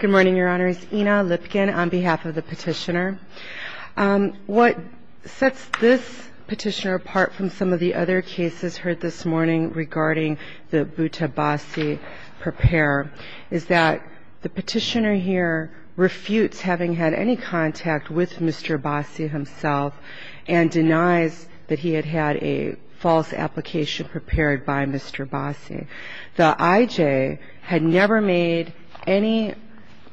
Good morning, Your Honors. Ina Lipkin on behalf of the Petitioner. What sets this Petitioner apart from some of the other cases heard this morning regarding the Butta-Bossi prepare is that the Petitioner here refutes having had any contact with Mr. Bossi himself and denies that he had had a false application prepared by Mr. Bossi. The IJ had never made any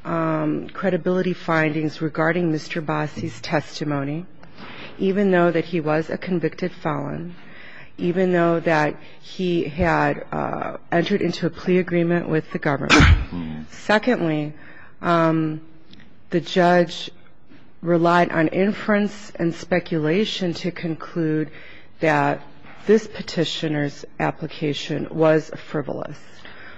credibility findings regarding Mr. Bossi's testimony, even though that he was a convicted felon, even though that he had entered into a plea agreement with the government. Secondly, the judge relied on inference and speculation to conclude that this Petitioner's application was false.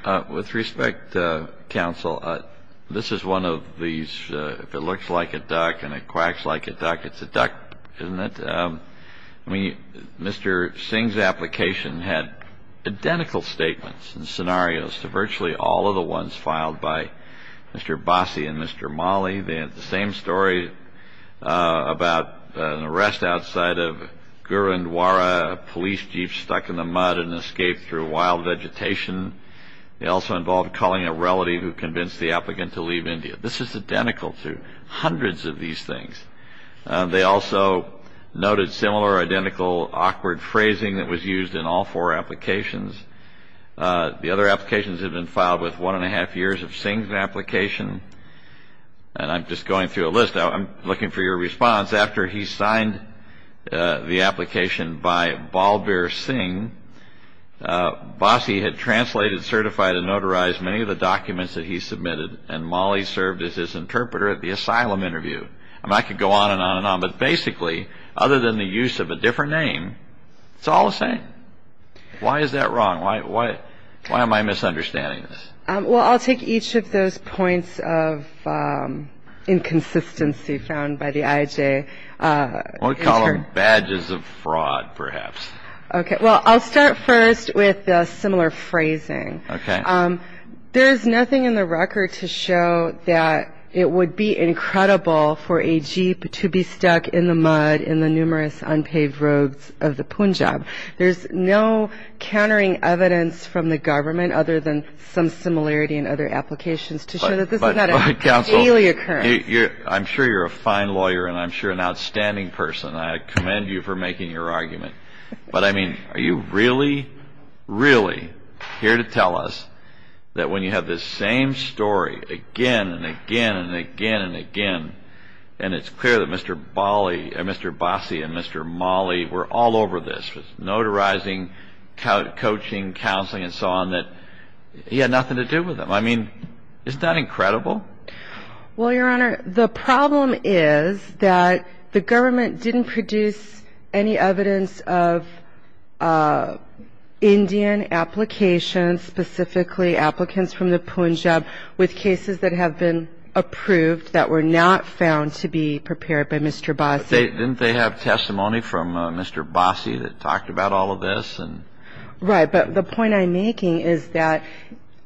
And thirdly, the Petitioner's testimony is frivolous. With respect, Counsel, this is one of these, if it looks like a duck and it quacks like a duck, it's a duck, isn't it? Mr. Singh's application had identical statements and scenarios to virtually all of the ones filed by Mr. Bossi and Mr. Mali. They had the same story about an arrest outside of Gurundwara, a police jeep stuck in the mud and escaped through wild vegetation. They also involved calling a relative who convinced the applicant to leave India. This is identical to hundreds of these things. They also noted similar identical awkward phrasing that was used in all four applications. The other applications have been filed with one and a half years of Singh's application. And I'm just going through a list. I'm looking for your response. After he signed the application by Balbir Singh, Bossi had translated, certified and notarized many of the documents that he submitted and Mali served as his interpreter at the asylum interview. I could go on and on and on, but basically, other than the use of a different name, it's all the same. Why is that wrong? Why am I misunderstanding this? Well, I'll take each of those points of inconsistency found by the IJ. We'll call them badges of fraud, perhaps. Well, I'll start first with the similar phrasing. There's nothing in the record to show that it would be incredible for a jeep to be stuck in the mud in the numerous unpaved roads of the Punjab. There's no countering evidence from the government other than some similarity in other applications to show that this is not a daily occurrence. I'm sure you're a fine lawyer and I'm sure an outstanding person. I commend you for making your argument. But, I mean, are you really, really here to tell us that when you have this same story again and again and again and again and it's clear that Mr. Bossi and Mr. Mali were all over this. Notarizing, coaching, counseling, and so on, that he had nothing to do with them. I mean, isn't that incredible? Well, Your Honor, the problem is that the government didn't produce any evidence of Indian applications, specifically applicants from the Punjab, with cases that have been approved that were not found to be prepared by Mr. Bossi. Didn't they have testimony from Mr. Bossi that talked about all of this? Right, but the point I'm making is that,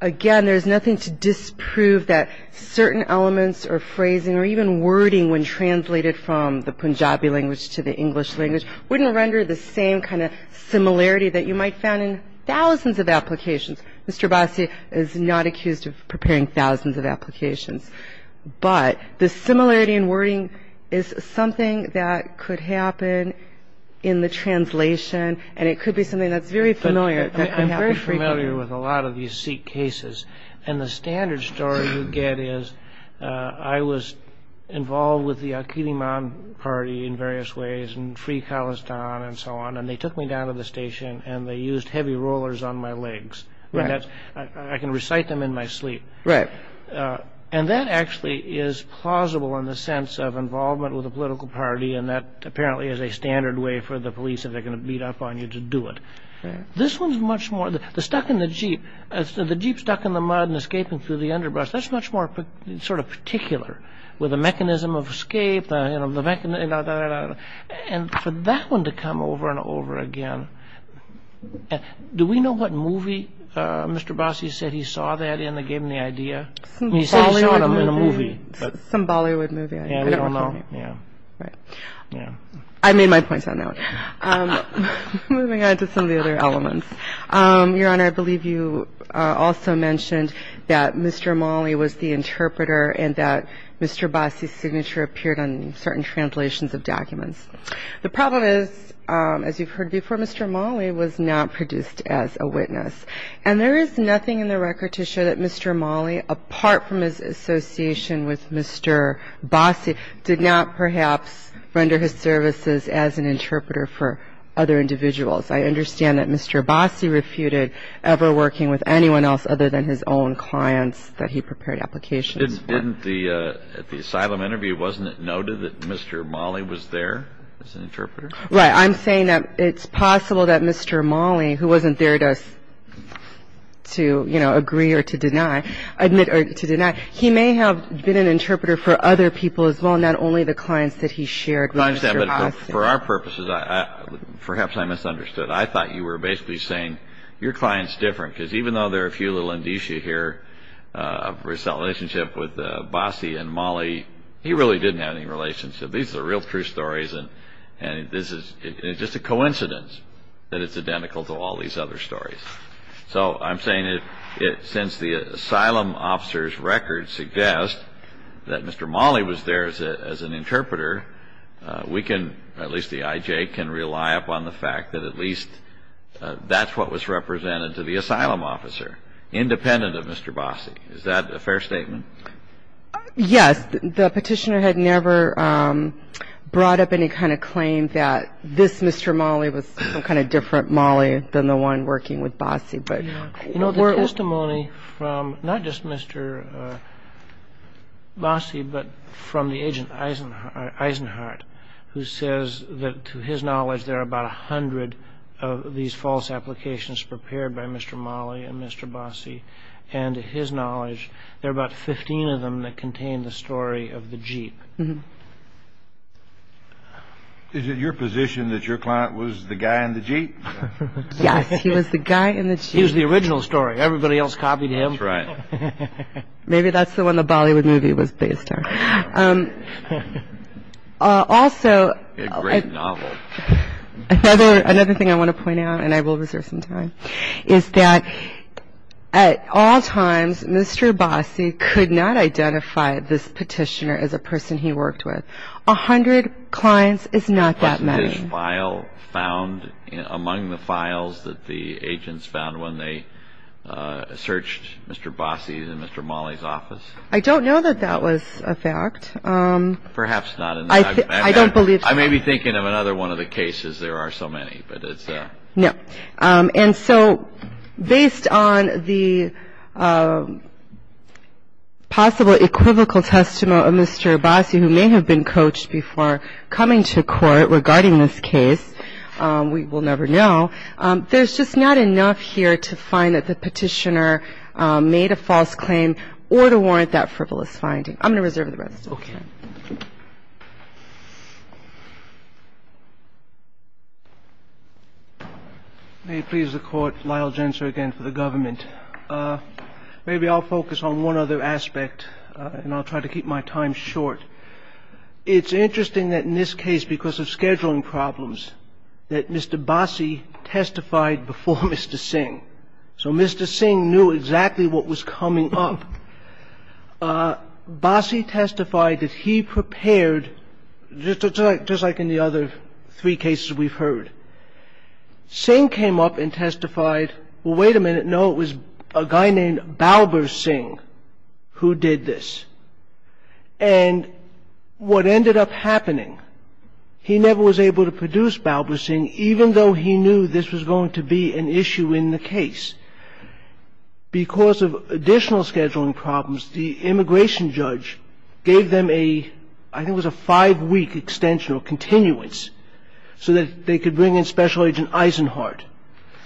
again, there's nothing to disprove that certain elements or phrasing or even wording when translated from the Punjabi language to the English language wouldn't render the same kind of similarity that you might find in thousands of applications. Mr. Bossi is not accused of preparing thousands of applications. That could happen in the translation, and it could be something that's very familiar. I'm very familiar with a lot of these Sikh cases, and the standard story you get is, I was involved with the Aqidiman party in various ways, and Free Khalistan, and so on, and they took me down to the station and they used heavy rollers on my legs. I can recite them in my sleep. And that actually is plausible in the sense of involvement with a political party, and that apparently is a standard way for the police, if they're going to beat up on you, to do it. This one's much more, the stuck in the jeep, the jeep stuck in the mud and escaping through the underbrush, that's much more sort of particular, with the mechanism of escape, and for that one to come over and over again. Do we know what movie Mr. Bossi said he saw that in that gave him the idea? He said he saw it in a movie. Some Bollywood movie, I don't know. I made my point on that one. Moving on to some of the other elements. Your Honor, I believe you also mentioned that Mr. Mali was the interpreter, and that Mr. Bossi's signature appeared on certain translations of documents. The problem is, as you've heard before, Mr. Mali was not produced as a witness. And there is nothing in the record to show that Mr. Mali, apart from his association with Mr. Bossi, did not perhaps render his services as an interpreter for other individuals. I understand that Mr. Bossi refuted ever working with anyone else other than his own clients that he prepared applications for. But didn't the, at the asylum interview, wasn't it noted that Mr. Mali was there as an interpreter? Right. I'm saying that it's possible that Mr. Mali, who wasn't there to, you know, agree or to deny, admit or to deny, he may have been an interpreter for other people as well, not only the clients that he shared with Mr. Bossi. I understand, but for our purposes, perhaps I misunderstood. I thought you were basically saying, your client's different, because even though there are a few little indicia here of his relationship with Bossi and Mali, he really didn't have any relationship. These are real true stories. And this is just a coincidence that it's identical to all these other stories. So I'm saying that since the asylum officer's record suggests that Mr. Mali was there as an interpreter, we can, at least the IJ, can rely upon the fact that at least that's what was represented to the asylum officer. Independent of Mr. Bossi. Is that a fair statement? Yes. The petitioner had never brought up any kind of claim that this Mr. Mali was some kind of different Mali than the one working with Bossi. You know, the testimony from not just Mr. Bossi, but from the agent Eisenhardt, who says that to his knowledge, there are about 100 of these false applications prepared by Mr. Mali and Mr. Bossi. And to his knowledge, there are about 15 of them that contain the story of the Jeep. Is it your position that your client was the guy in the Jeep? Yes, he was the guy in the Jeep. He was the original story. Everybody else copied him. That's right. Maybe that's the one the Bollywood movie was based on. Also, another thing I want to point out, and I will reserve some time, is that at all times, Mr. Bossi could not identify this petitioner as a person he worked with. A hundred clients is not that many. Wasn't his file found among the files that the agents found when they searched Mr. Bossi's and Mr. Mali's office? I don't know that that was a fact. Perhaps not. I don't believe so. I may be thinking of another one of the cases. There are so many. No. And so, based on the possible equivocal testimony of Mr. Bossi, who may have been coached before coming to court regarding this case, we will never know, there's just not enough here to find that the petitioner made a false claim or to warrant that frivolous finding. I'm going to reserve the rest of the time. May it please the Court, Lyle Jenser again for the government. Maybe I'll focus on one other aspect, and I'll try to keep my time short. It's interesting that in this case, because of scheduling problems, that Mr. Bossi testified before Mr. Singh. So Mr. Singh knew exactly what was coming up. Bossi testified that he prepared, just like in the other three cases we've heard, Singh came up and testified, well, wait a minute, no, it was a guy named Balbir Singh who did this. And what ended up happening, he never was able to produce Balbir Singh, even though he knew this was going to be an issue in the case. Because of additional scheduling problems, the immigration judge gave them a, I think it was a five-week extension or continuance, so that they could bring in Special Agent Eisenhardt.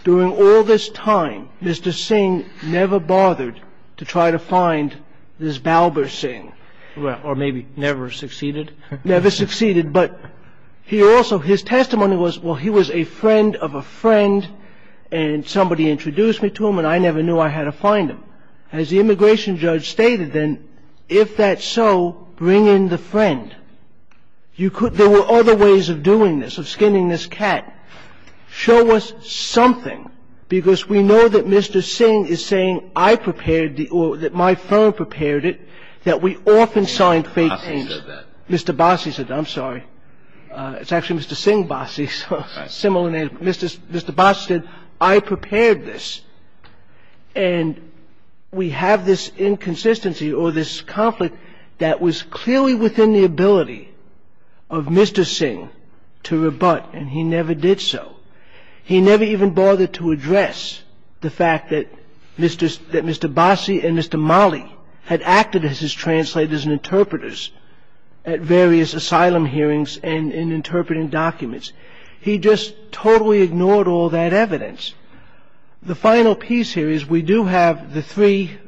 During all this time, Mr. Singh never bothered to try to find this Balbir Singh. Or maybe never succeeded. Never succeeded, but he also, his testimony was, well, he was a friend of a friend, and somebody introduced me to him, and I never knew I had to find him. As the immigration judge stated then, if that's so, bring in the friend. There were other ways of doing this, of skinning this cat. Show us something, because we know that Mr. Singh is saying, I prepared the, or that my firm prepared it, that we often signed fake names. Mr. Bassi said that, I'm sorry. It's actually Mr. Singh Bassi, similar name. Mr. Bassi said, I prepared this. And we have this inconsistency or this conflict that was clearly within the ability of Mr. Singh to rebut, and he never did so. He never even bothered to address the fact that Mr. Bassi and Mr. Mali had acted as his translators and interpreters at various asylum hearings and in interpreting documents. He just totally ignored all that evidence. The final piece here is, we do have the three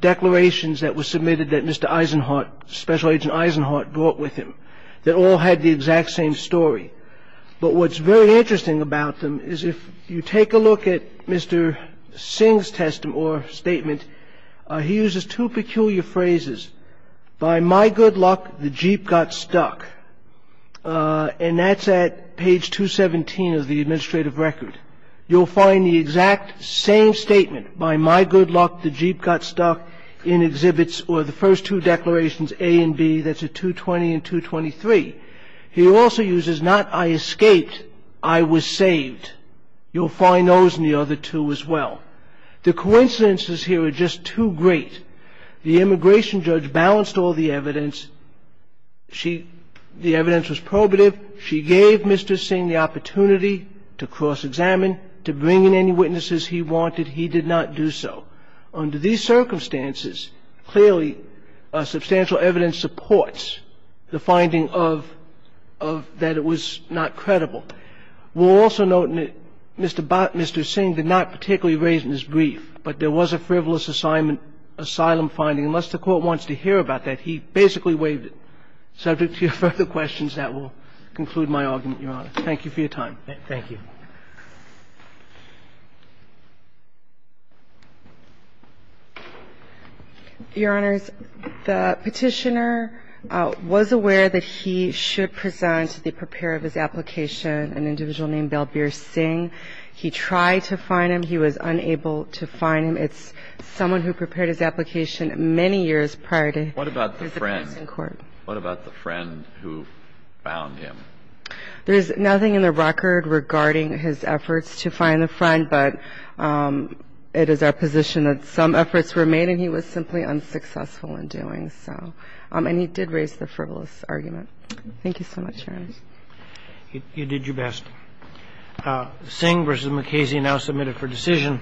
declarations that were submitted that Mr. Eisenhardt, Special Agent Eisenhardt, brought with him that all had the exact same story. But what's very interesting about them is if you take a look at Mr. Singh's statement, he uses two peculiar phrases, by my good luck, the Jeep got stuck. And that's at page 217 of the administrative record. You'll find the exact same statement, by my good luck, the Jeep got stuck, in exhibits or the first two declarations, A and B, that's at 220 and 223. He also uses not I escaped, I was saved. You'll find those in the other two as well. The coincidences here are just too great. The immigration judge balanced all the evidence. The evidence was probative. She gave Mr. Singh the opportunity to cross-examine, to bring in any witnesses he wanted. He did not do so. Under these circumstances, clearly substantial evidence supports the finding of that it was not credible. We'll also note that Mr. Singh did not particularly raise in his brief, but there was a frivolous asylum finding. Unless the Court wants to hear about that, he basically waived it. Subject to your further questions, that will conclude my argument, Your Honor. Thank you for your time. Thank you. Your Honors, the Petitioner was aware that he should present the preparer of his application, an individual named Belbir Singh. He tried to find him. He was unable to find him. It's someone who prepared his application many years prior to his appearance in court. What about the friend? What about the friend who found him? There is nothing in the record regarding his efforts to find the friend, but it is our position that some efforts were made and he was simply unsuccessful in doing so. And he did raise the frivolous argument. Thank you so much, Your Honor. You did your best. Singh v. McCasey now submitted for decision.